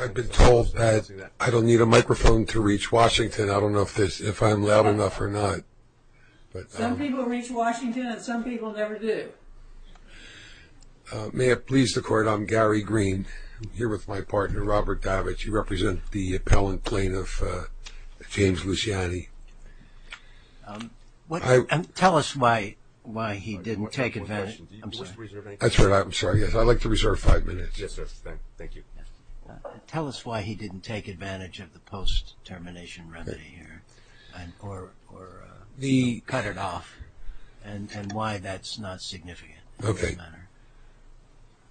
I've been told that I don't need a microphone to reach Washington. I don't know if this if I'm loud enough or not May it please the court. I'm Gary Green here with my partner Robert Davich you represent the appellant plaintiff James Luciani What I'm tell us why why he didn't take it That's right. I'm sorry. Yes, I'd like to reserve five minutes Tell us why he didn't take advantage of the post-termination remedy here The cut it off and and why that's not significant, okay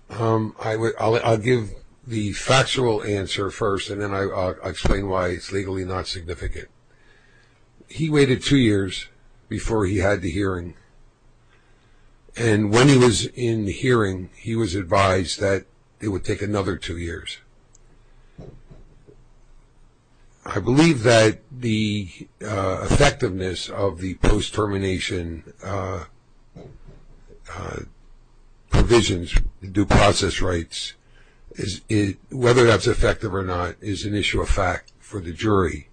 Um, I would I'll give the factual answer first and then I explain why it's legally not significant he waited two years before he had the hearing and When he was in the hearing he was advised that it would take another two years I Believe that the effectiveness of the post-termination Provisions due process rights is it whether that's effective or not is an issue of fact for the jury.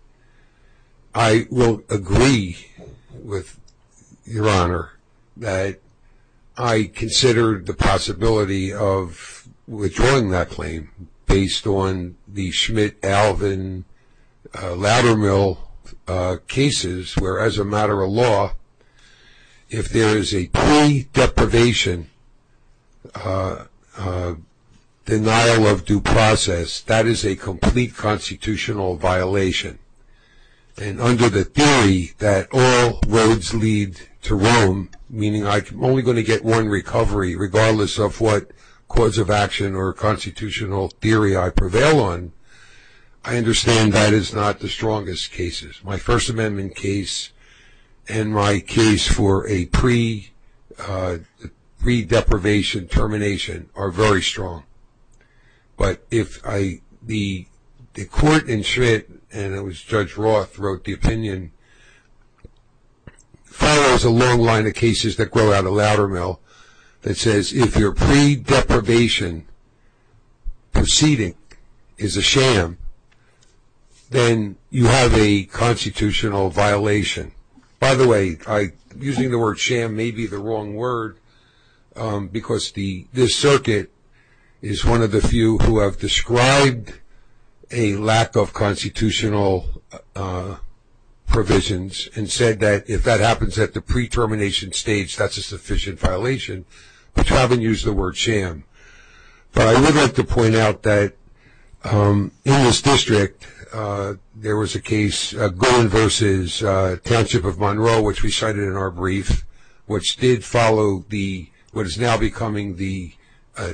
I will agree with your honor that I considered the possibility of Withdrawing that claim based on the Schmitt Alvin ladder-mill cases where as a matter of law if there is a deprivation Denial of due process that is a complete constitutional violation And under the theory that all roads lead to Rome Meaning I'm only going to get one recovery regardless of what cause of action or constitutional theory. I prevail on I Understand that is not the strongest cases my First Amendment case and my case for a pre Redeprivation termination are very strong but if I the Court in shit, and it was judge Roth wrote the opinion If I was a long line of cases that grow out a ladder mill that says if you're pre deprivation Proceeding is a sham then you have a Constitutional violation by the way I using the word sham may be the wrong word Because the this circuit is one of the few who have described a lack of constitutional Provisions and said that if that happens at the pre termination stage, that's a sufficient violation But I haven't used the word sham But I would like to point out that in this district There was a case going versus Township of Monroe, which we cited in our brief which did follow the what is now becoming the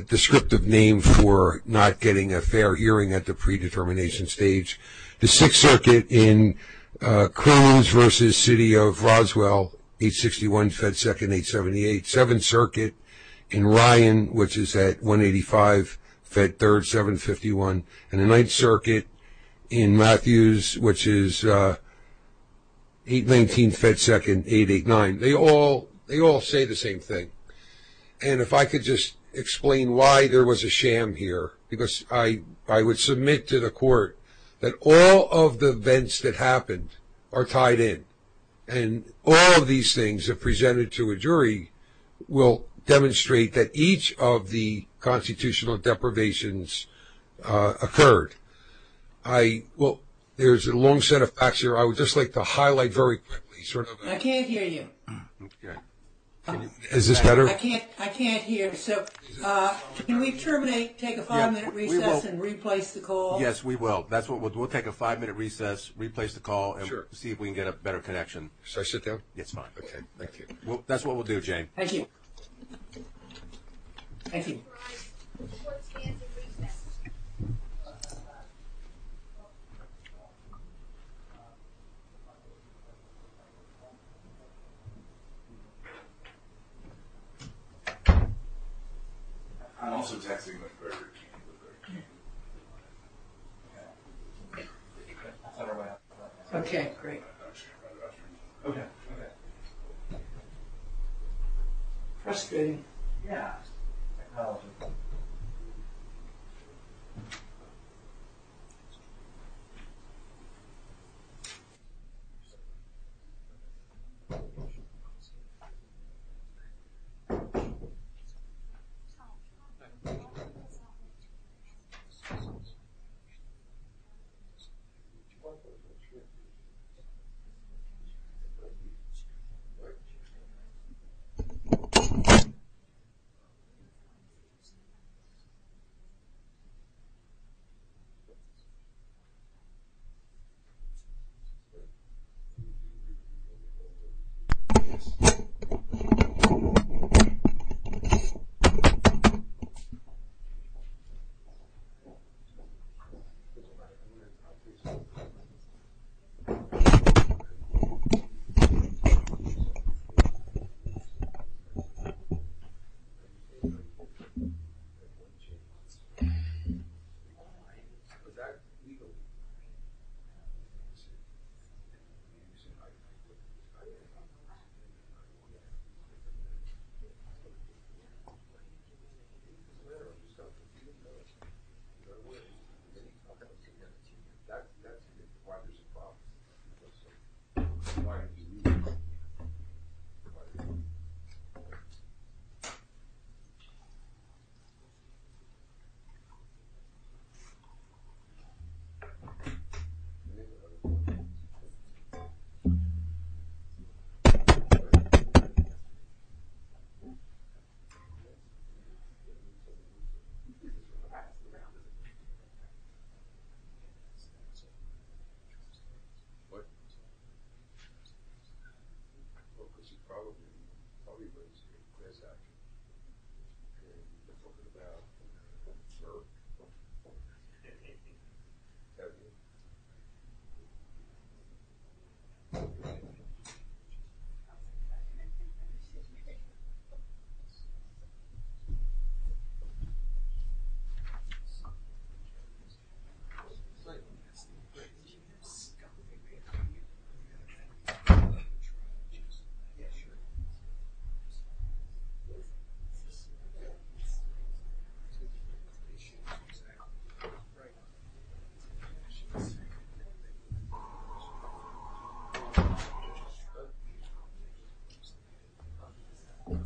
Descriptive name for not getting a fair hearing at the predetermination stage the Sixth Circuit in Cruz versus City of Roswell 861 Fed 2nd 878 7th Circuit in Ryan, which is at 185 Fed 3rd 751 and the 9th Circuit in Matthews, which is 8 19 Fed 2nd 8 8 9 they all they all say the same thing And if I could just explain why there was a sham here because I I would submit to the court that all of The events that happened are tied in and all of these things have presented to a jury Will demonstrate that each of the constitutional deprivations? occurred I Well, there's a long set of facts here. I would just like to highlight very quickly I can't hear you. Okay, is this better? I can't I can't hear so Can we terminate take a five-minute recess and replace the call? Yes, we will that's what we'll take a five-minute recess Replace the call sure see if we can get a better connection. So I sit down. It's fine. Okay. Thank you Well, that's what we'll do Jane. Thank you I'm also texting Okay, great, okay Frustrating yeah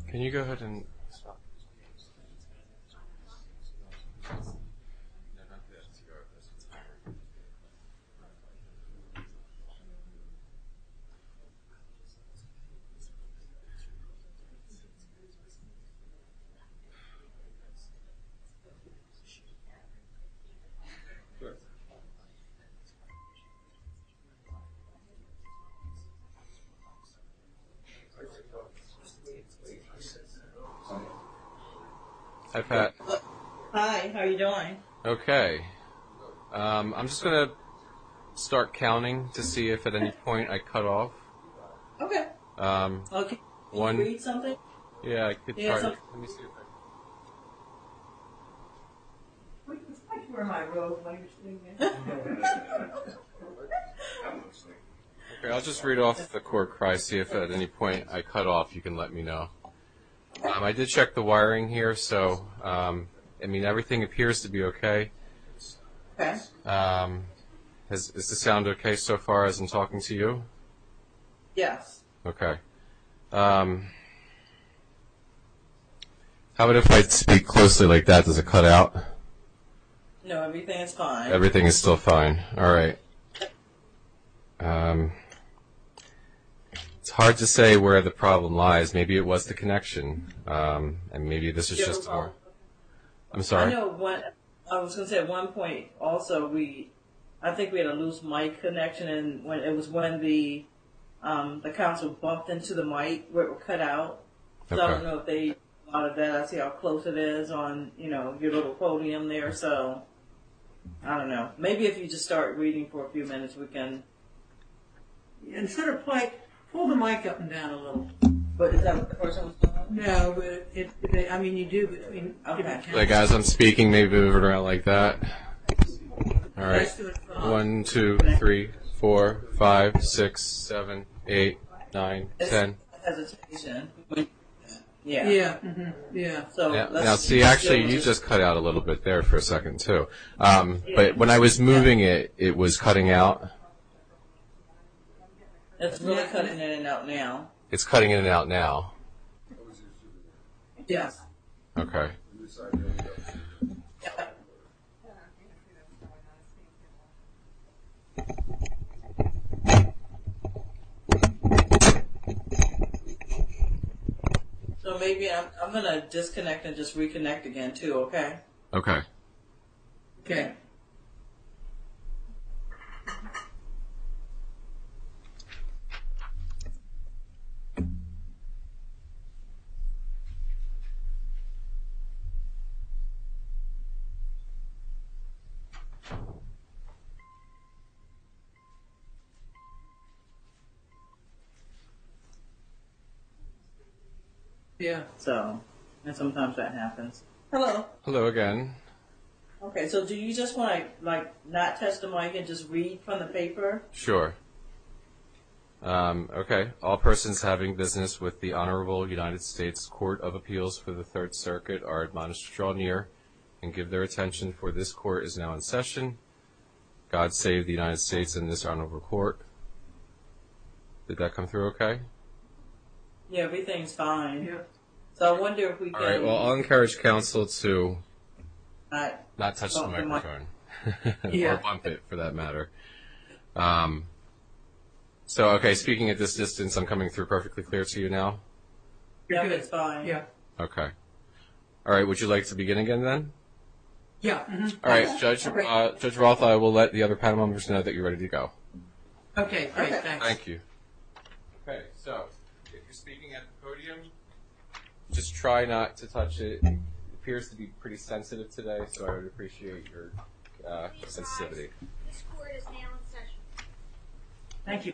Can you go ahead and Hi Pat, hi, how are you doing? Okay. I'm just gonna start counting to see if at any point I cut off I'll just read off the court crisis I cut off you can let me know. I did check the wiring here. So I mean everything appears to be okay As the sound okay so far as I'm talking to you, yes, okay How about if I speak closely like that does it cut out everything is still fine. All right It's hard to say where the problem lies maybe it was the connection and maybe this is just I'm sorry Also, we I think we had a loose mic connection and when it was one of the The council bumped into the mic where it will cut out They are bad. I see how close it is on you know, give it a podium there. So I Don't know. Maybe if you just start reading for a few minutes we can And sort of like pull the mic up and down a little No, I mean you do Like as I'm speaking, maybe move it around like that All right, one two, three, four five six seven eight nine ten Yeah Now see actually you just cut out a little bit there for a second too, but when I was moving it it was cutting out It's really cutting in and out now it's cutting in and out now Yes, okay So maybe I'm gonna disconnect and just reconnect again too, okay, okay, okay You Yeah, so sometimes that happens hello hello again Okay, so do you just want to like not test the mic and just read from the paper sure Okay, all persons having business with the Honorable United States Court of Appeals for the Third Circuit are admonished strong here and Give their attention for this court is now in session God save the United States in this honorable court Did that come through? Okay? Yeah, everything's fine. Yeah, so I wonder if we all encourage counsel to not touch For that matter So, okay speaking at this distance I'm coming through perfectly clear to you now Yeah, okay All right, would you like to begin again then? Yeah, all right judge judge Roth. I will let the other panel members know that you're ready to go Okay, thank you Okay, so if you're speaking at the podium just try not to touch it appears to be pretty sensitive today so I would appreciate your sensitivity Thank you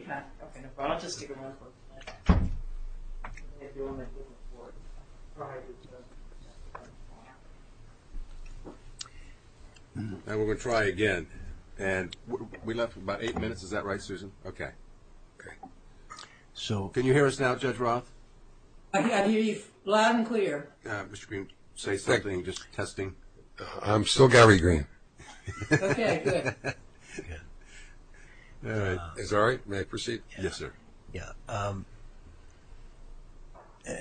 And we're gonna try again and we left about eight minutes, is that right Susan, okay So can you hear us now judge Roth? Loud and clear. Yeah, mr. Green say something just testing. I'm still Gary Green It's all right, may I proceed? Yes, sir. Yeah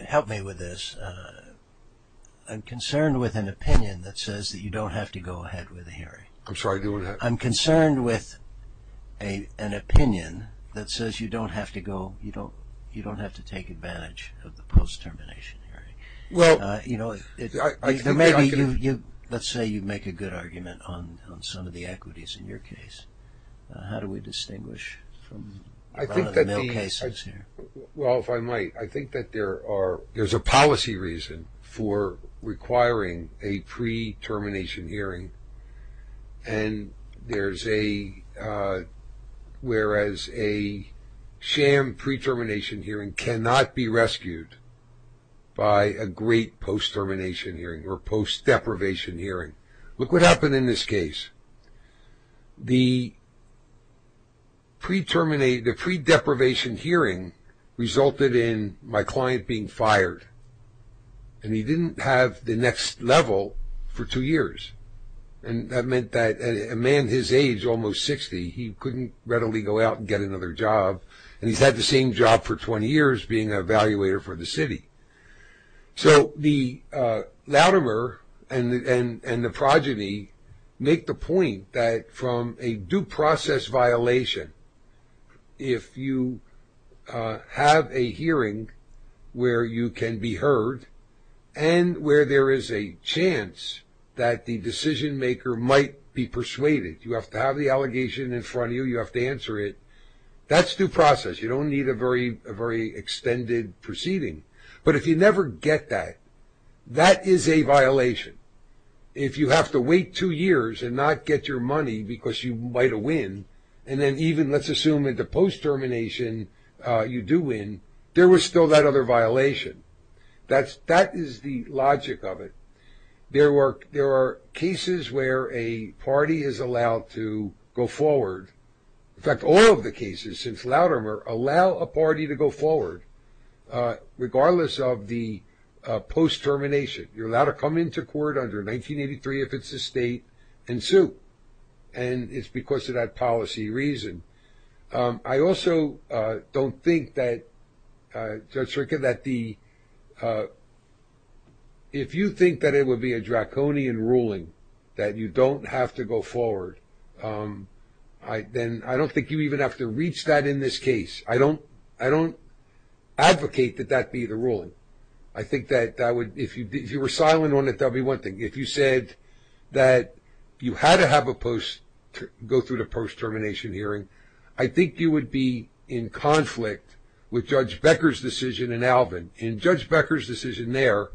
Help me with this I'm concerned with an opinion that says that you don't have to go ahead with a hearing. I'm sorry doing that. I'm concerned with a Opinion that says you don't have to go. You don't you don't have to take advantage of the post termination Well, you know, I think maybe you let's say you make a good argument on some of the equities in your case How do we distinguish? Well, if I might I think that there are there's a policy reason for requiring a pre termination hearing and there's a Whereas a sham pre-termination hearing cannot be rescued By a great post termination hearing or post deprivation hearing look what happened in this case the Pre-terminate the pre deprivation hearing resulted in my client being fired and he didn't have the next level for two years and That meant that a man his age almost 60 He couldn't readily go out and get another job and he's had the same job for 20 years being an evaluator for the city so the Loudomer and and and the progeny make the point that from a due process violation if you have a hearing where you can be heard and Where there is a chance that the decision maker might be persuaded you have to have the allegation in front of you You have to answer it. That's due process. You don't need a very very extended proceeding but if you never get that that is a violation if You have to wait two years and not get your money because you might have win and then even let's assume at the post termination You do win there was still that other violation That's that is the logic of it There were there are cases where a party is allowed to go forward In fact, all of the cases since louder more allow a party to go forward regardless of the post termination you're allowed to come into court under 1983 if it's a state and sue and It's because of that policy reason I also don't think that Judge circuit that the If you think that it would be a draconian ruling that you don't have to go forward I then I don't think you even have to reach that in this case. I don't I don't Advocate that that be the ruling. I think that that would if you did you were silent on it There'll be one thing if you said that You had to have a post to go through the post termination hearing I think you would be in conflict with judge Becker's decision in Alvin in judge Becker's decision there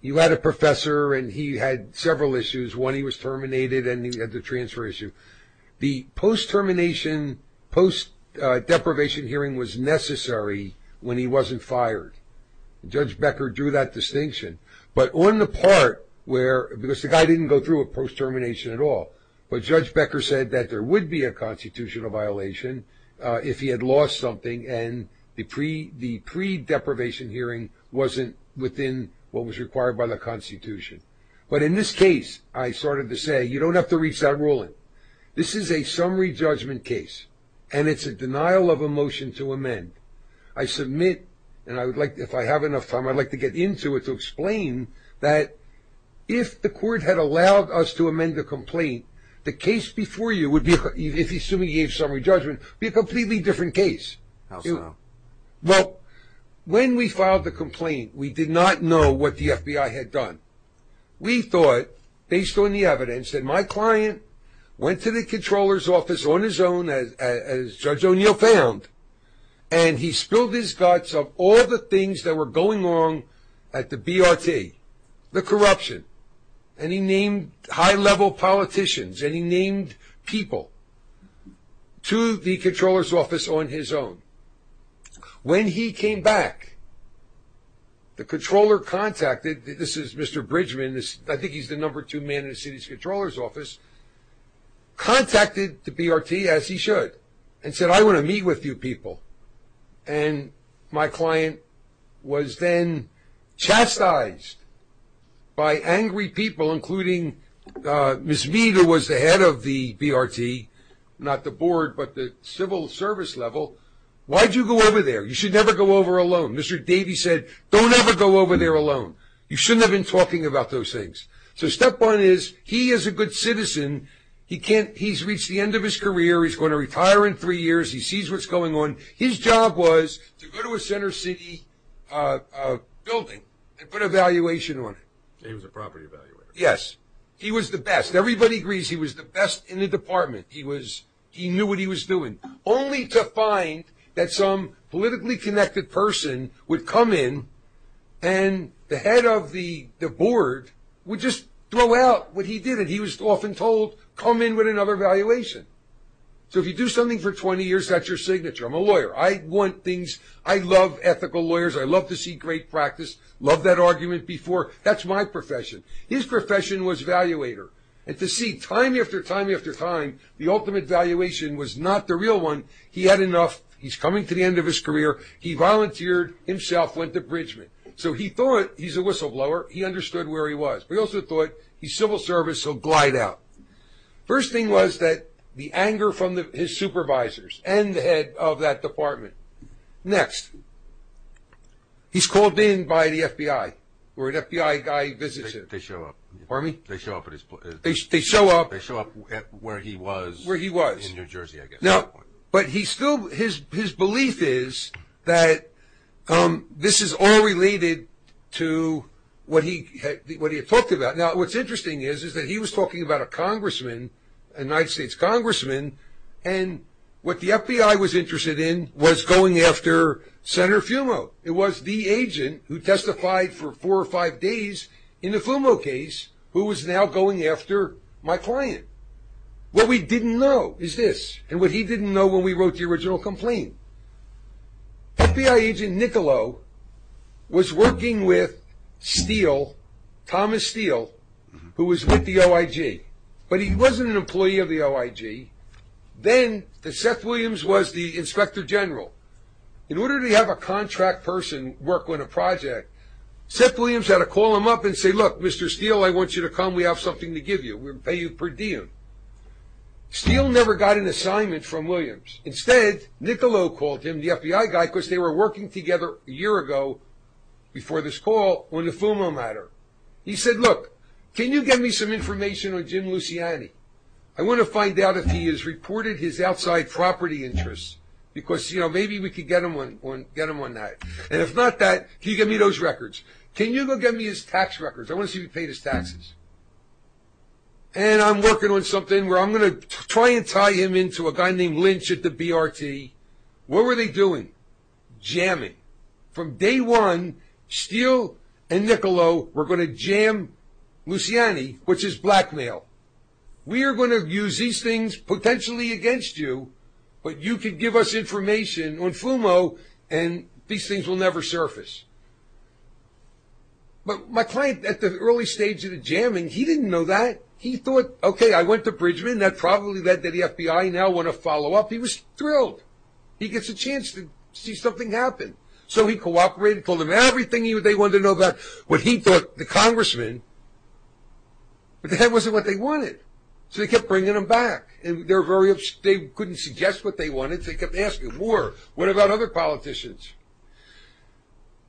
You had a professor and he had several issues when he was terminated and he had the transfer issue the post termination post Deprivation hearing was necessary when he wasn't fired Judge Becker drew that distinction But on the part where because the guy didn't go through a post termination at all but judge Becker said that there would be a constitutional violation if he had lost something and the pre the Predeprivation hearing wasn't within what was required by the Constitution But in this case, I started to say you don't have to reach that ruling This is a summary judgment case and it's a denial of a motion to amend I submit and I would like if I have enough time, I'd like to get into it to explain that If the court had allowed us to amend the complaint the case before you would be If he soon we gave summary judgment be a completely different case well When we filed the complaint, we did not know what the FBI had done We thought based on the evidence that my client went to the controller's office on his own as judge O'Neill found And he spilled his guts of all the things that were going wrong at the BRT The corruption and he named high-level politicians and he named people to the controller's office on his own when he came back The controller contacted this is mr. Bridgman. This I think he's the number two man in the city's controllers office Contacted the BRT as he should and said I want to meet with you people and my client was then Chastised by angry people including Miss meter was the head of the BRT not the board, but the civil service level Why'd you go over there? You should never go over alone. Mr. Davies said don't ever go over there alone You shouldn't have been talking about those things. So step one is he is a good citizen He can't he's reached the end of his career. He's going to retire in three years He sees what's going on. His job was to go to a Center City Building and put a valuation on it. He was a property evaluator. Yes. He was the best everybody agrees He was the best in the department he was he knew what he was doing only to find that some politically connected person would come in and The head of the the board would just throw out what he did and he was often told come in with another valuation So if you do something for 20 years, that's your signature. I'm a lawyer. I want things. I love ethical lawyers I love to see great practice love that argument before that's my profession His profession was valuator and to see time after time after time. The ultimate valuation was not the real one He had enough he's coming to the end of his career. He volunteered himself went to Bridgman So he thought he's a whistleblower. He understood where he was. We also thought he's civil service. He'll glide out First thing was that the anger from the his supervisors and the head of that department Next He's called in by the FBI or an FBI guy visits it they show up for me They show up at his place. They show up. They show up where he was where he was in, New Jersey I guess no, but he's still his his belief is that This is all related to What he what he talked about now, what's interesting is is that he was talking about a congressman a United States congressman and What the FBI was interested in was going after Senator Fumo it was the agent who testified for four or five days in the Fumo case who was now going after my client What we didn't know is this and what he didn't know when we wrote the original complaint FBI agent Niccolo Was working with steel Thomas Steele who was with the OIG, but he wasn't an employee of the OIG Then the Seth Williams was the inspector general in order to have a contract person work on a project Seth Williams had to call him up and say look. Mr. Steele. I want you to come we have something to give you We're pay you per diem Steele never got an assignment from Williams instead Niccolo called him the FBI guy because they were working together a year ago Before this call on the Fumo matter. He said look, can you give me some information on Jim Luciani? I want to find out if he is reported his outside property interests because you know Maybe we could get him on one get him on that. And if not that he give me those records Can you go get me his tax records? I want to see if he paid his taxes And I'm working on something where I'm gonna try and tie him into a guy named Lynch at the BRT. What were they doing? Jamming from day one Steele and Niccolo we're going to jam Luciani which is blackmail We're going to use these things potentially against you, but you could give us information on Fumo and these things will never surface But my client at the early stage of the jamming he didn't know that he thought okay I went to Bridgman that probably led to the FBI now want to follow up. He was thrilled He gets a chance to see something happen So he cooperated told him everything he would they want to know about what he thought the congressman But the head wasn't what they wanted So they kept bringing them back and they're very upstate couldn't suggest what they wanted. They kept asking war. What about other politicians?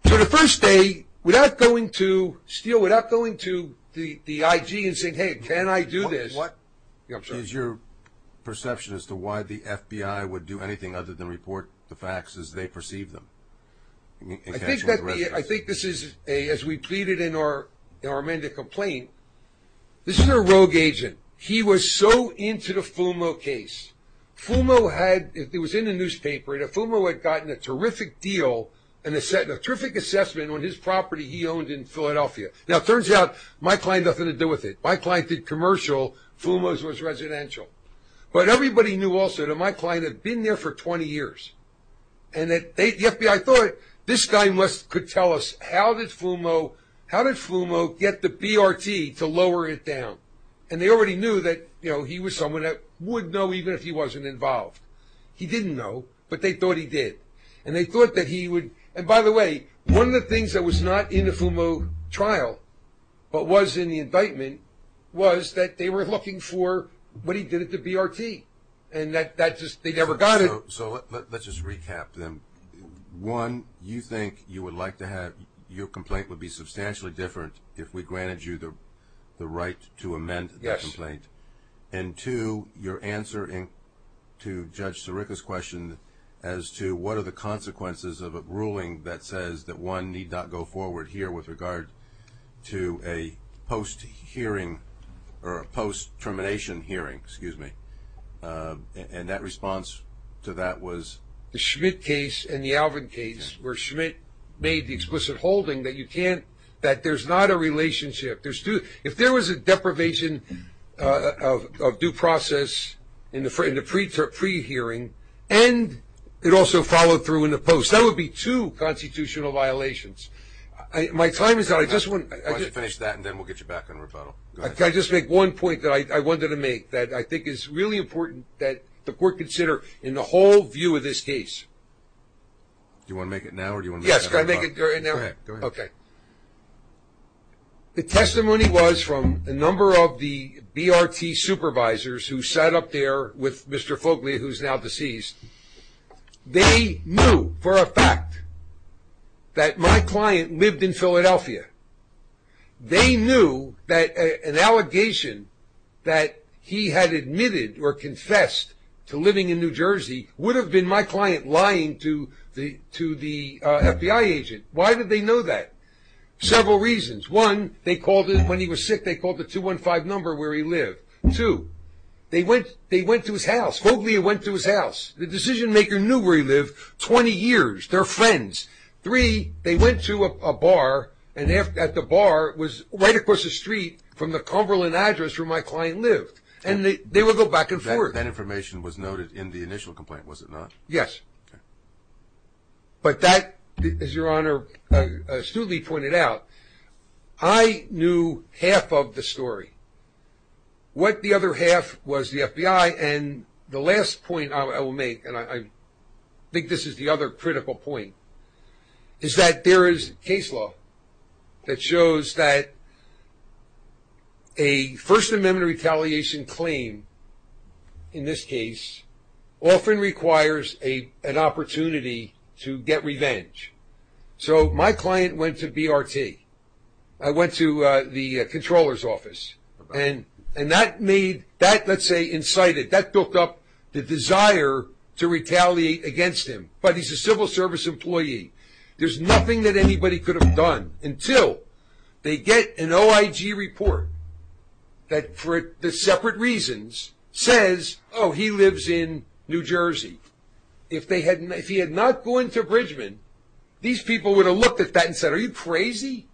So the first day without going to steal without going to the the IG and saying hey, can I do this? What is your Perception as to why the FBI would do anything other than report the facts as they perceive them I think this is a as we pleaded in our in our mandate complaint This is a rogue agent. He was so into the Fumo case Fumo had it was in the newspaper and a Fumo had gotten a terrific deal and a set of terrific assessment on his property He owned in Philadelphia now turns out my client nothing to do with it. My client did commercial Fumos was residential but everybody knew also to my client had been there for 20 years and That they FBI thought this guy must could tell us How did Fumo how did Fumo get the BRT to lower it down and they already knew that you know He was someone that would know even if he wasn't involved He didn't know but they thought he did and they thought that he would and by the way One of the things that was not in the Fumo trial But was in the indictment was that they were looking for what he did at the BRT and that that just they never got it So let's just recap them One you think you would like to have your complaint would be substantially different if we granted you the The right to amend the complaint and to your answer in to judge Sirica's question as to what are the consequences of a ruling that says that one need not go forward here with regard to a post-hearing or a post termination hearing, excuse me And that response to that was the Schmidt case and the Alvin case where Schmidt Made the explicit holding that you can't that there's not a relationship. There's two if there was a deprivation of due process in the free to pre hearing and It also followed through in the post. That would be two constitutional violations My time is that I just want to finish that and then we'll get you back on rebuttal Okay, just make one point that I wanted to make that I think is really important that the court consider in the whole view of this case Do you want to make it now or do you want? Yes, can I make it right now? Okay The testimony was from a number of the BRT supervisors who sat up there with mr. Folkley who's now deceased They knew for a fact That my client lived in Philadelphia They knew that an allegation That he had admitted or confessed to living in New Jersey would have been my client lying to the to the FBI agent, why did they know that? Several reasons one they called it when he was sick. They called the 215 number where he lived So they went they went to his house Hopefully it went to his house the decision-maker knew where he lived 20 years their friends three They went to a bar and they have at the bar was right across the street from the Cumberland address where my client lived And they will go back and forth that information was noted in the initial complaint. Was it not? Yes But that is your honor astutely pointed out I Knew half of the story what the other half was the FBI and the last point I will make and I Think this is the other critical point Is that there is case law that shows that a First Amendment retaliation claim in this case Often requires a an opportunity to get revenge So my client went to BRT I went to the controllers office and and that made that let's say incited that built up the desire To retaliate against him, but he's a civil service employee There's nothing that anybody could have done until they get an OIG report That for the separate reasons says, oh he lives in New Jersey If they hadn't if he had not going to Bridgman these people would have looked at that and said are you crazy?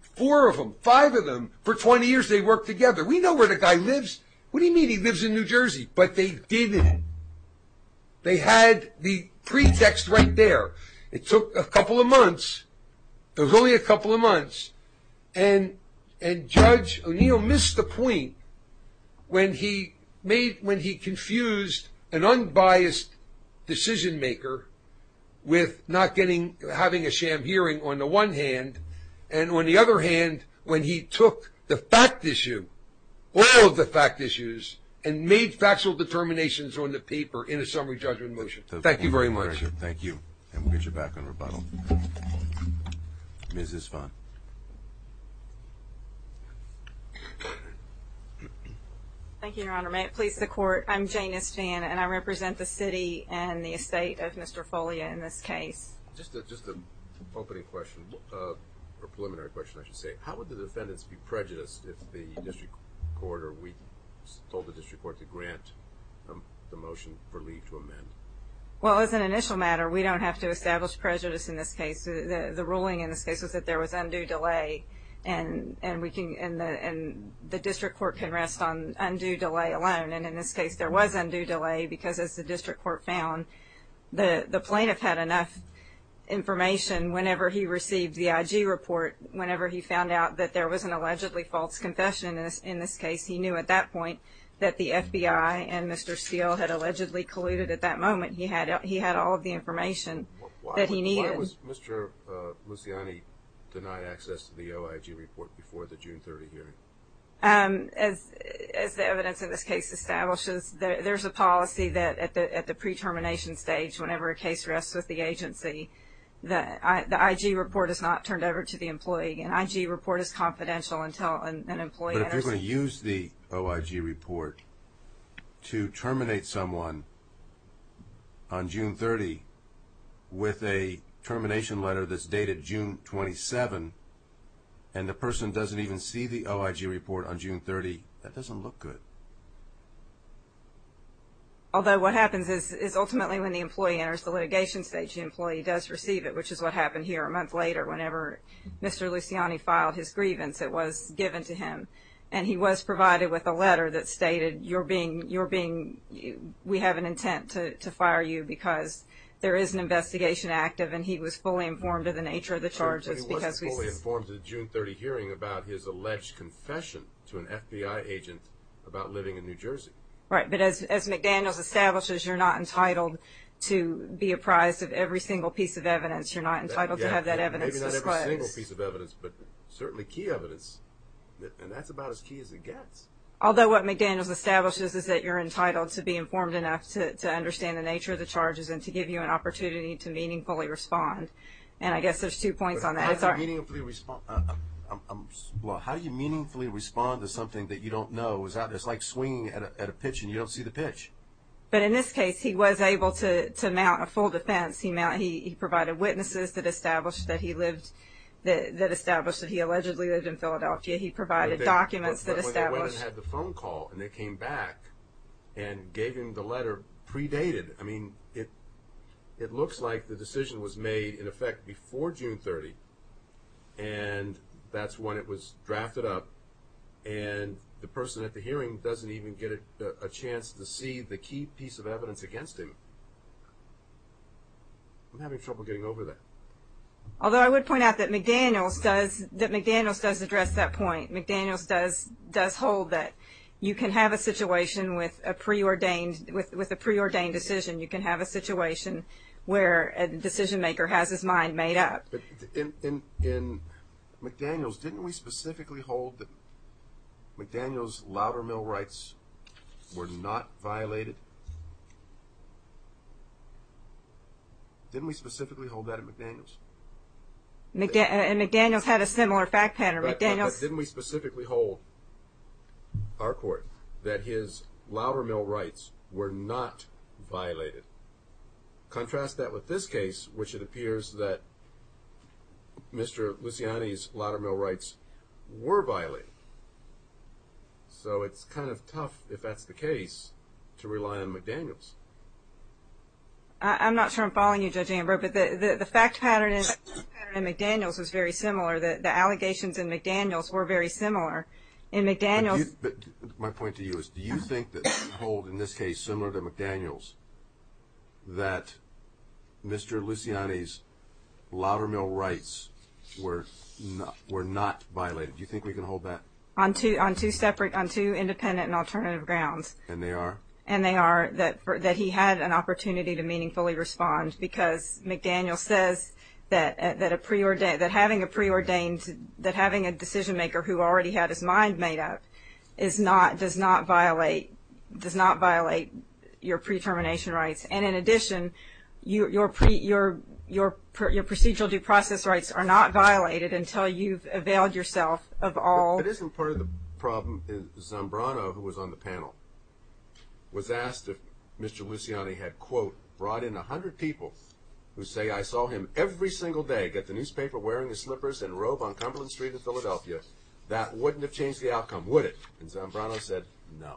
Four of them five of them for 20 years. They work together. We know where the guy lives What do you mean? He lives in New Jersey, but they didn't They had the pretext right there. It took a couple of months There's only a couple of months and and judge O'Neill missed the point When he made when he confused an unbiased decision maker With not getting having a sham hearing on the one hand and on the other hand when he took the fact issue All of the fact issues and made factual determinations on the paper in a summary judgment motion, thank you very much Thank you, and we'll get you back on rebuttal This is fun Thank you, your honor may it please the court I'm Janus fan and I represent the city and the estate of mr. Folia in this case Just just an opening question Or preliminary question I should say how would the defendants be prejudiced if the district court or we told the district court to grant the motion for leave to amend Well as an initial matter we don't have to establish prejudice in this case the the ruling in this case was that there was undue delay and And we can in the and the district court can rest on undue delay alone And in this case there was undue delay because as the district court found The the plaintiff had enough Information whenever he received the IG report whenever he found out that there was an allegedly false confession in this in this case He knew at that point that the FBI and mr. Steele had allegedly colluded at that moment He had he had all of the information That he needed mr. Luciani Denied access to the OIG report before the June 30 hearing as As the evidence in this case establishes that there's a policy that at the at the pre-termination stage whenever a case rests with the agency That the IG report is not turned over to the employee and IG report is confidential until an employee Use the OIG report to terminate someone on June 30 with a termination letter that's dated June 27 and The person doesn't even see the OIG report on June 30. That doesn't look good Although what happens is is ultimately when the employee enters the litigation stage the employee does receive it which is what happened here a month later whenever Mr. Luciani filed his grievance It was given to him and he was provided with a letter that stated you're being you're being We have an intent to fire you because there is an investigation Active and he was fully informed of the nature of the charges because we were informed of the June 30 hearing about his alleged Confession to an FBI agent about living in New Jersey, right? But as McDaniels establishes, you're not entitled to be apprised of every single piece of evidence You're not entitled to have that evidence But certainly key evidence And that's about as key as it gets although what McDaniels establishes is that you're entitled to be informed enough to Understand the nature of the charges and to give you an opportunity to meaningfully respond and I guess there's two points on that Meaningfully respond Well, how do you meaningfully respond to something that you don't know? Is that it's like swinging at a pitch and you don't see the pitch But in this case, he was able to mount a full defense He mounted he provided witnesses that established that he lived that that established that he allegedly lived in Philadelphia He provided documents that established the phone call and they came back and gave him the letter Predated. I mean it it looks like the decision was made in effect before June 30 and that's when it was drafted up and The person at the hearing doesn't even get a chance to see the key piece of evidence against him I'm having trouble getting over that Although I would point out that McDaniels does that McDaniels does address that point McDaniels does does hold that You can have a situation with a pre-ordained with with a pre-ordained decision You can have a situation where a decision maker has his mind made up In McDaniels, didn't we specifically hold that? McDaniels louder mill rights were not violated Didn't we specifically hold that at McDaniels McDan and McDaniels had a similar fact pattern, but didn't we specifically hold Our court that his louder mill rights were not violated contrast that with this case which it appears that Mr. Luciani's louder mill rights were violated So it's kind of tough if that's the case to rely on McDaniels I'm not sure I'm following you judge Amber, but the the fact pattern is McDaniels is very similar that the allegations in McDaniels were very similar in McDaniels My point to you is do you think that hold in this case similar to McDaniels? that Mr. Luciani's louder-mill rights Were not we're not violated. Do you think we can hold that on two on two separate on two independent and alternative grounds? And they are and they are that that he had an opportunity to meaningfully respond because McDaniel says that That a preordained that having a preordained that having a decision maker who already had his mind made up is not does not violate Does not violate your pre-termination rights and in addition you your pre your your Procedural due process rights are not violated until you've availed yourself of all it isn't part of the problem Zambrano who was on the panel Was asked if mr. Luciani had quote brought in a hundred people who say I saw him every single day get the newspaper wearing his slippers and robe on Cumberland Street in Philadelphia that wouldn't have changed the outcome would it and Zambrano said no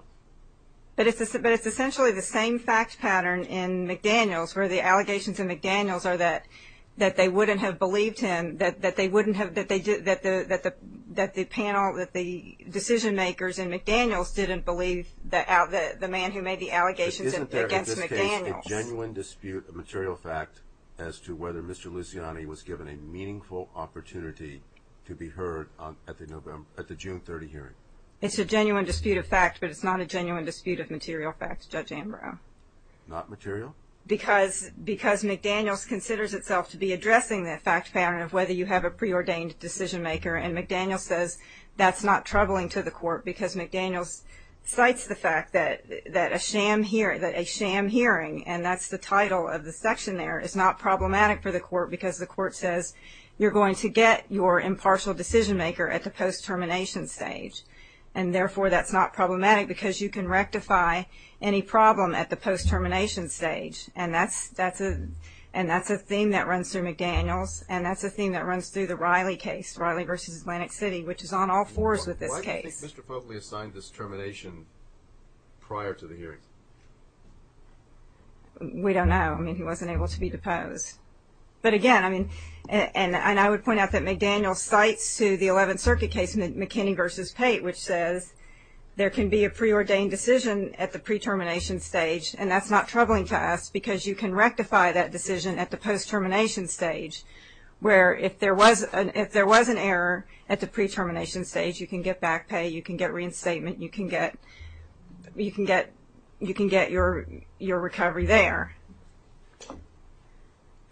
But it's a but it's essentially the same fact pattern in McDaniels where the allegations in McDaniels are that that they wouldn't have believed him that that they wouldn't have that they did that the that the that the panel that the Decision makers and McDaniels didn't believe that out that the man who made the allegations Genuine dispute a material fact as to whether mr. Luciani was given a meaningful opportunity to be heard on at the November at the June 30 hearing It's a genuine dispute of fact, but it's not a genuine dispute of material facts judge. Ambrose not material because Because McDaniels considers itself to be addressing that fact pattern of whether you have a preordained decision-maker and McDaniels says That's not troubling to the court because McDaniels Cites the fact that that a sham here that a sham hearing and that's the title of the section there is not Problematic for the court because the court says you're going to get your impartial decision-maker at the post termination stage And therefore that's not problematic because you can rectify any problem at the post termination stage And that's that's a and that's a thing that runs through McDaniels And that's a thing that runs through the Riley case Riley versus Atlantic City, which is on all fours with this case Mr. Foley assigned this termination prior to the hearing We don't know I mean he wasn't able to be deposed But again, I mean and and I would point out that McDaniels cites to the 11th Circuit case in the McKinney versus Pate which says There can be a preordained decision at the pre termination stage and that's not troubling to us because you can rectify that decision at the post termination stage Where if there was if there was an error at the pre termination stage, you can get back pay you can get reinstatement. You can get You can get you can get your your recovery there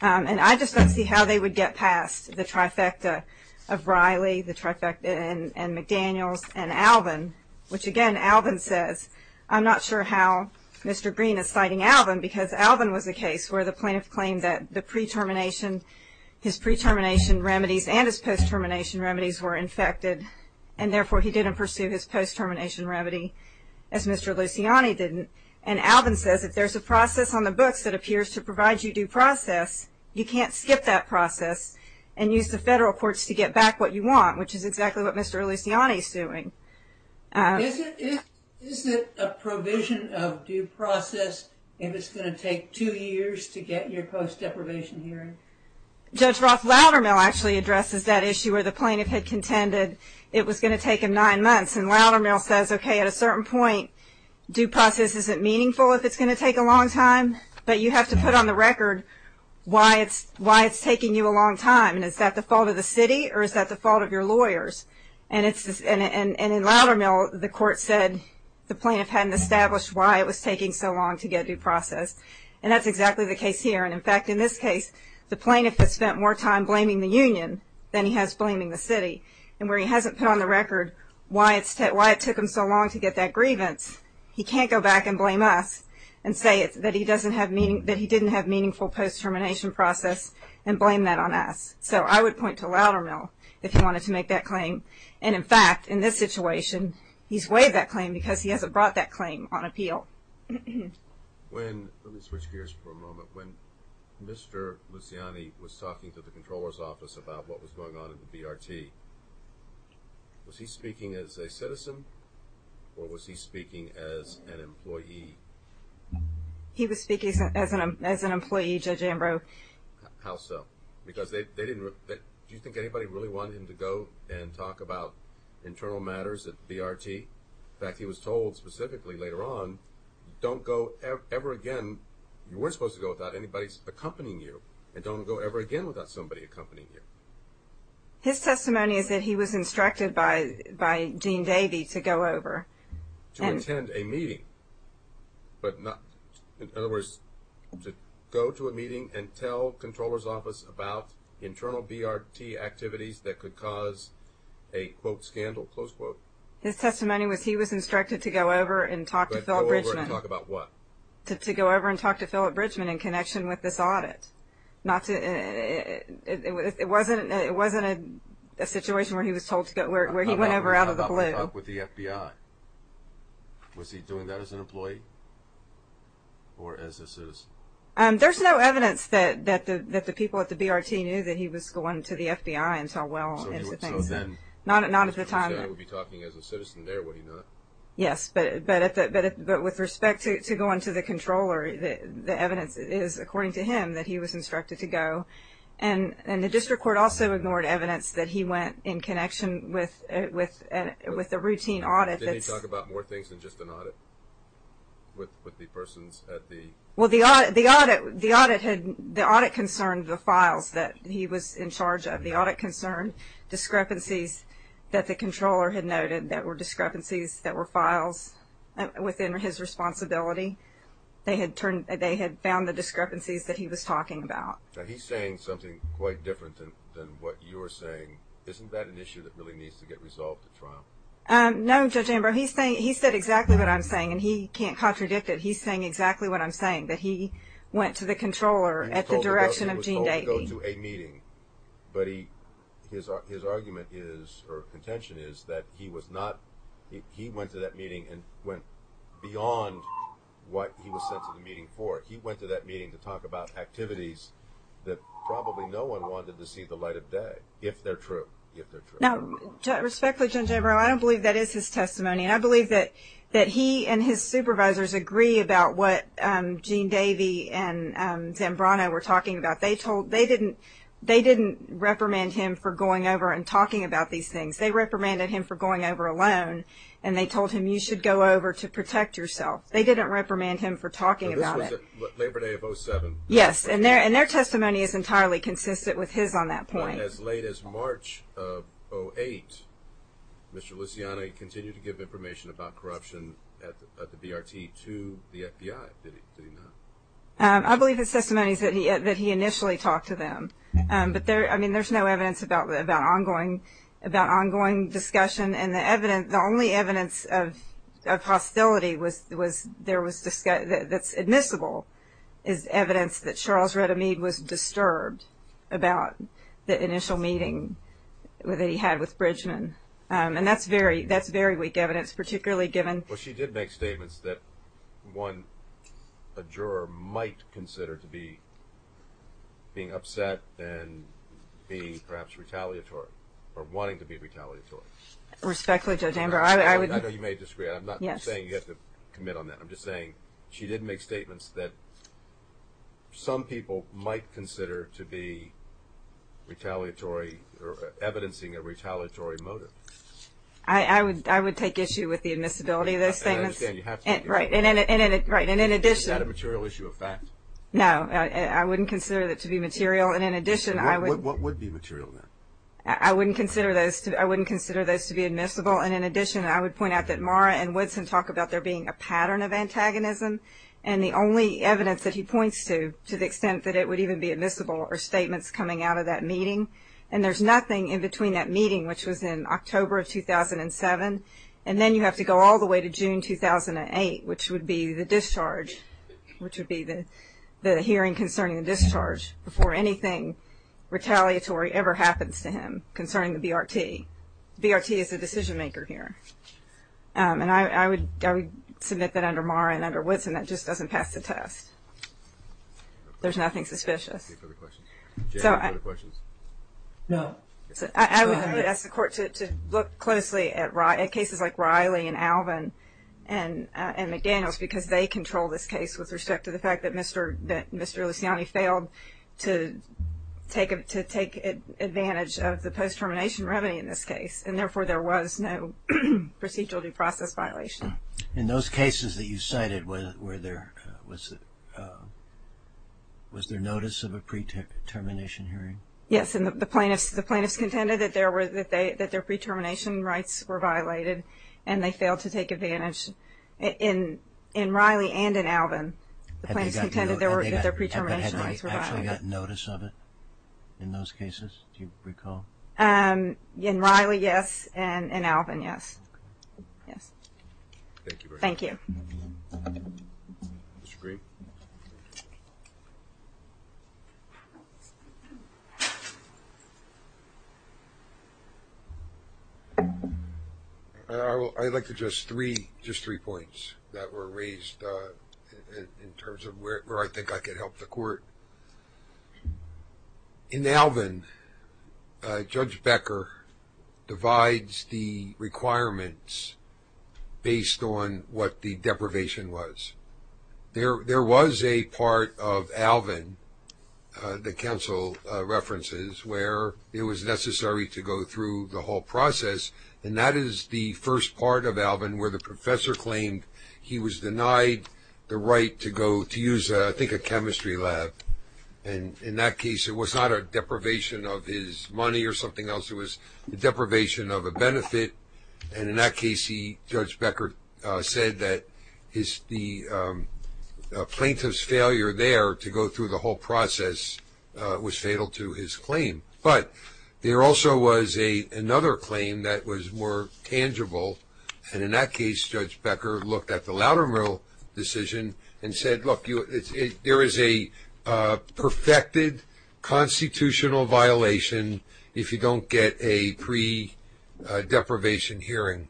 And I just don't see how they would get past the trifecta of Riley the trifecta and and McDaniels and Alvin Which again Alvin says I'm not sure how Mr. Green is citing Alvin because Alvin was a case where the plaintiff claimed that the pre termination his pre termination remedies and his post termination remedies were infected and Therefore he didn't pursue his post termination remedy as mr Luciani didn't and Alvin says if there's a process on the books that appears to provide you due process You can't skip that process and use the federal courts to get back what you want, which is exactly what mr. Luciani is doing Judge Roth louder mill actually addresses that issue where the plaintiff had contended it was going to take him nine months and louder mill says Okay at a certain point Due process isn't meaningful if it's going to take a long time, but you have to put on the record Why it's why it's taking you a long time and is that the fault of the city or is that the fault of your lawyers? And it's and and and in louder mill the court said The plaintiff hadn't established why it was taking so long to get due process and that's exactly the case here And in fact in this case The plaintiff has spent more time blaming the Union than he has blaming the city and where he hasn't put on the record Why it's that why it took him so long to get that grievance He can't go back and blame us and say it's that he doesn't have meaning that he didn't have meaningful Post-termination process and blame that on us So I would point to louder mill if he wanted to make that claim and in fact in this situation He's waived that claim because he hasn't brought that claim on appeal When let me switch gears for a moment when mr. Luciani was talking to the controller's office about what was going on in the BRT Was he speaking as a citizen or was he speaking as an employee? He was speaking as an as an employee judge Ambrose How so because they didn't do you think anybody really wanted him to go and talk about? Internal matters at BRT in fact he was told specifically later on Don't go ever again You weren't supposed to go without anybody's accompanying you and don't go ever again without somebody accompanying you His testimony is that he was instructed by by Dean Davey to go over and attend a meeting but not in other words to go to a meeting and tell controllers office about internal BRT activities that could cause a Quote scandal close quote his testimony was he was instructed to go over and talk to talk about what? To go over and talk to Philip Bridgman in connection with this audit not to It wasn't it wasn't a situation where he was told to go where he went over out of the blue with the FBI Was he doing that as an employee? Or as a citizen and there's no evidence that that the that the people at the BRT knew that he was going to the FBI And so well, it's a thing then not at not at the time Yes, but but if it but with respect to going to the controller that the evidence is according to him that he was instructed to And and the district court also ignored evidence that he went in connection with it with and with the routine audit Let's talk about more things than just an audit With with the persons at the well The audit the audit the audit had the audit concerned the files that he was in charge of the audit concern Discrepancies that the controller had noted that were discrepancies that were files Within his responsibility They had turned they had found the discrepancies that he was talking about He's saying something quite different than what you were saying. Isn't that an issue that really needs to get resolved at trial? Um, no, judge Amber. He's saying he said exactly what I'm saying, and he can't contradict it He's saying exactly what I'm saying that he went to the controller at the direction of Jean Davey go to a meeting But he his argument is or contention is that he was not He went to that meeting and went beyond What he was sent to the meeting for he went to that meeting to talk about activities That probably no one wanted to see the light of day if they're true No Respectfully general. I don't believe that is his testimony and I believe that that he and his supervisors agree about what? Jean Davey and Zambrano we're talking about they told they didn't they didn't reprimand him for going over and talking about these things They reprimanded him for going over alone and they told him you should go over to protect yourself They didn't reprimand him for talking about it Yes, and there and their testimony is entirely consistent with his on that point as late as March of 08 Mr. Luciani continued to give information about corruption at the BRT to the FBI I believe his testimony said he had that he initially talked to them but there I mean there's no evidence about about ongoing about ongoing discussion and the evidence the only evidence of Hostility was was there was discussed that's admissible is Evidence that Charles read Amid was disturbed about the initial meeting With he had with Bridgman and that's very that's very weak evidence, particularly given. Well, she did make statements that one a juror might consider to be Being upset and be perhaps retaliatory or wanting to be retaliatory Respectfully, I would Commit on that I'm just saying she didn't make statements that some people might consider to be Retaliatory or evidencing a retaliatory motive I Would I would take issue with the admissibility of those things? Right and in it right and in addition a material issue of fact No, I wouldn't consider that to be material and in addition I would what would be material then I wouldn't consider those I wouldn't consider those to be admissible and in addition I would point out that Mara and Woodson talk about there being a pattern of antagonism and The only evidence that he points to to the extent that it would even be admissible or statements coming out of that meeting And there's nothing in between that meeting which was in October of 2007 And then you have to go all the way to June 2008, which would be the discharge Which would be the the hearing concerning the discharge before anything? Retaliatory ever happens to him concerning the BRT BRT is a decision-maker here And I would submit that under Mara and under Woodson that just doesn't pass the test There's nothing suspicious No, I would ask the court to look closely at riot cases like Riley and Alvin and And McDaniels because they control this case with respect to the fact that mr. That mr. Luciani failed to Take it to take advantage of the post termination remedy in this case. And therefore there was no Procedural due process violation in those cases that you cited with where there was Was there notice of a pre termination hearing yes And the plaintiffs the plaintiffs contended that there were that they that their pre-termination rights were violated and they failed to take advantage in in Riley and in Alvin Plaintiffs contended there were their pre-termination Notice of it in those cases. Do you recall and in Riley? Yes, and in Alvin? Yes Yes Thank you Mr. Green I will I'd like to just three just three points that were raised In terms of where I think I could help the court In Alvin Judge Becker divides the requirements Based on what the deprivation was There there was a part of Alvin the council References where it was necessary to go through the whole process And that is the first part of Alvin where the professor claimed He was denied the right to go to use I think a chemistry lab and in that case It was not a deprivation of his money or something else it was the deprivation of a benefit and in that case he judge Becker said that his the Plaintiffs failure there to go through the whole process Was fatal to his claim, but there also was a another claim that was more tangible and in that case judge Becker looked at the louder moral decision and said look you it's a there is a perfected constitutional violation if you don't get a pre deprivation hearing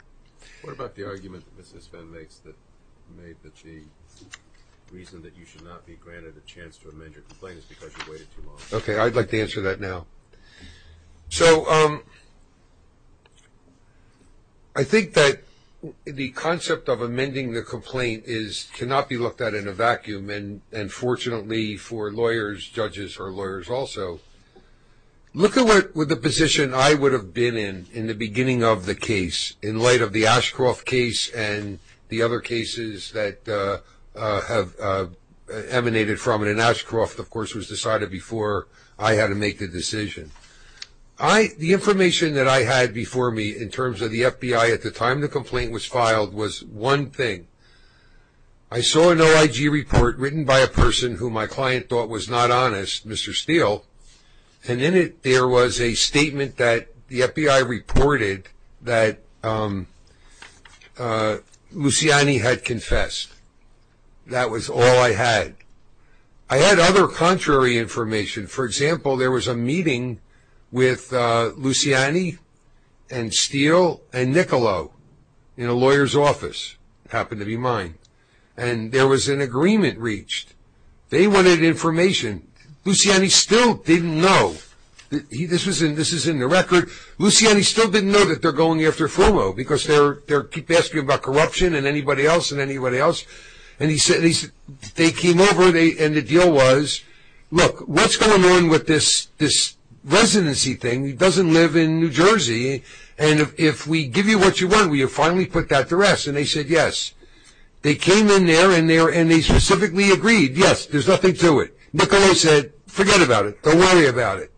Okay, I'd like to answer that now so I Think that The concept of amending the complaint is cannot be looked at in a vacuum and and fortunately for lawyers judges or lawyers also Look at what with the position I would have been in in the beginning of the case in light of the Ashcroft case and the other cases that have Emanated from it an Ashcroft of course was decided before I had to make the decision I The information that I had before me in terms of the FBI at the time the complaint was filed was one thing. I Saw an OIG report written by a person who my client thought was not honest. Mr. Steele And in it there was a statement that the FBI reported that Luciani had confessed That was all I had. I had other contrary information. For example, there was a meeting with Luciani and Steele and Niccolo in a lawyer's office Happened to be mine and there was an agreement reached they wanted information Luciani still didn't know This was in this is in the record Luciani still didn't know that they're going after FOMO because they're they're keep asking about corruption and anybody else and anybody else and he said he's they came over they and the deal was Look what's going on with this this? Residency thing he doesn't live in New Jersey And if we give you what you want where you finally put that to rest and they said yes They came in there and there and they specifically agreed. Yes, there's nothing to it. Niccolo said forget about it. Don't worry about it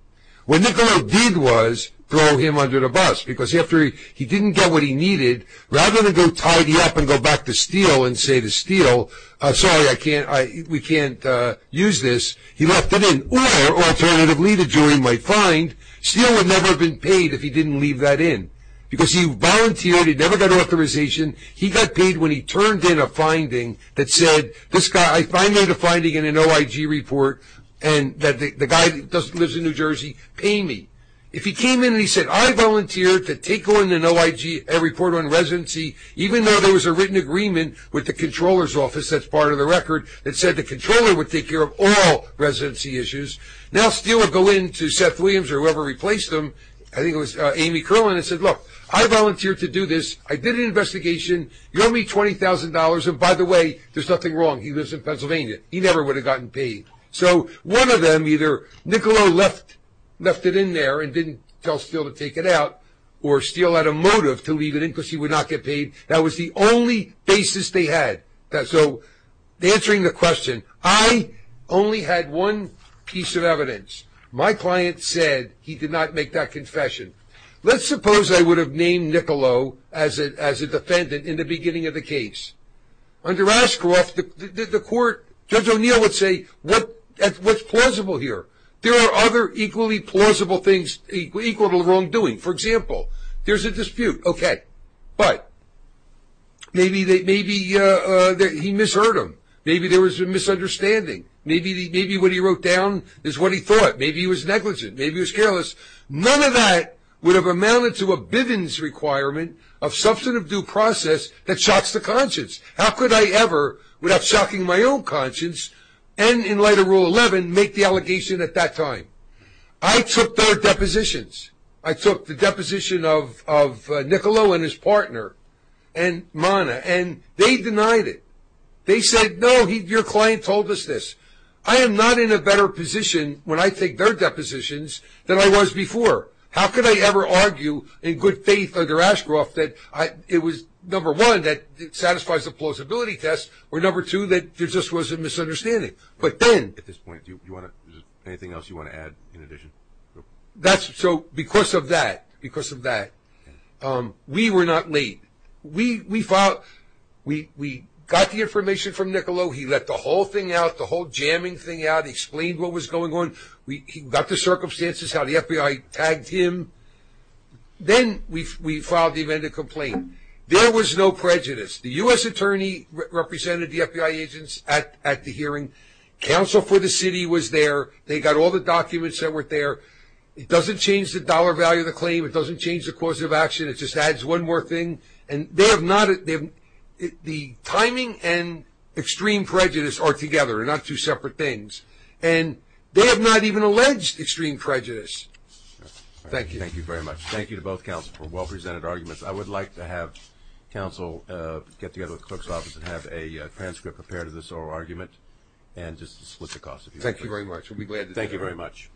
What Niccolo did was throw him under the bus because after he didn't get what he needed Rather than go tidy up and go back to Steele and say to Steele. I'm sorry. I can't I we can't use this He left it in or alternatively the jury might find Steele would never have been paid if he didn't leave that in because he volunteered he never got authorization He got paid when he turned in a finding that said this guy I find that a finding in an OIG report and that the guy doesn't lives in New Jersey pay me if he came in He said I volunteer to take on an OIG a report on residency Even though there was a written agreement with the controller's office That's part of the record that said the controller would take care of all Residency issues now Steele would go in to Seth Williams or whoever replaced him I think it was Amy Kerlin and said look I volunteer to do this. I did an investigation You owe me $20,000 and by the way, there's nothing wrong. He lives in Pennsylvania He never would have gotten paid so one of them either Niccolo left left it in there and didn't tell Steele to take it out or Steele had a motive to leave it in because he would not get paid. That was the only basis they had that so Answering the question. I only had one piece of evidence My client said he did not make that confession Let's suppose I would have named Niccolo as it as a defendant in the beginning of the case Under asker off the court judge O'Neill would say what that's what's plausible here There are other equally plausible things equal to the wrongdoing. For example, there's a dispute. Okay, but Maybe they maybe He misheard him. Maybe there was a misunderstanding. Maybe the maybe what he wrote down is what he thought maybe he was negligent Maybe he was careless. None of that would have amounted to a Bivens requirement of substantive due process that shocks the conscience How could I ever without shocking my own conscience and in light of rule 11 make the allegation at that time? I took their depositions. I took the deposition of Niccolo and his partner and Mana, and they denied it. They said no he your client told us this I am NOT in a better position when I take their depositions than I was before How could I ever argue in good faith under Ashcroft that I it was number one that it satisfies the plausibility test? We're number two that there just was a misunderstanding But then at this point you want anything else you want to add in addition? That's so because of that because of that We were not late. We we fought we we got the information from Niccolo He let the whole thing out the whole jamming thing out explained. What was going on? We got the circumstances how the FBI tagged him Then we filed the event a complaint. There was no prejudice the u.s. Attorney Represented the FBI agents at at the hearing Counsel for the city was there. They got all the documents that were there. It doesn't change the dollar value of the claim It doesn't change the cause of action. It just adds one more thing and they have not at them the timing and Extreme prejudice are together and not two separate things and they have not even alleged extreme prejudice Thank you. Thank you very much. Thank you to both counsel for well-presented arguments. I would like to have counsel get together with the clerk's office and have a Transcript prepared of this oral argument and just split the cost. Thank you very much. We'll be glad. Thank you very much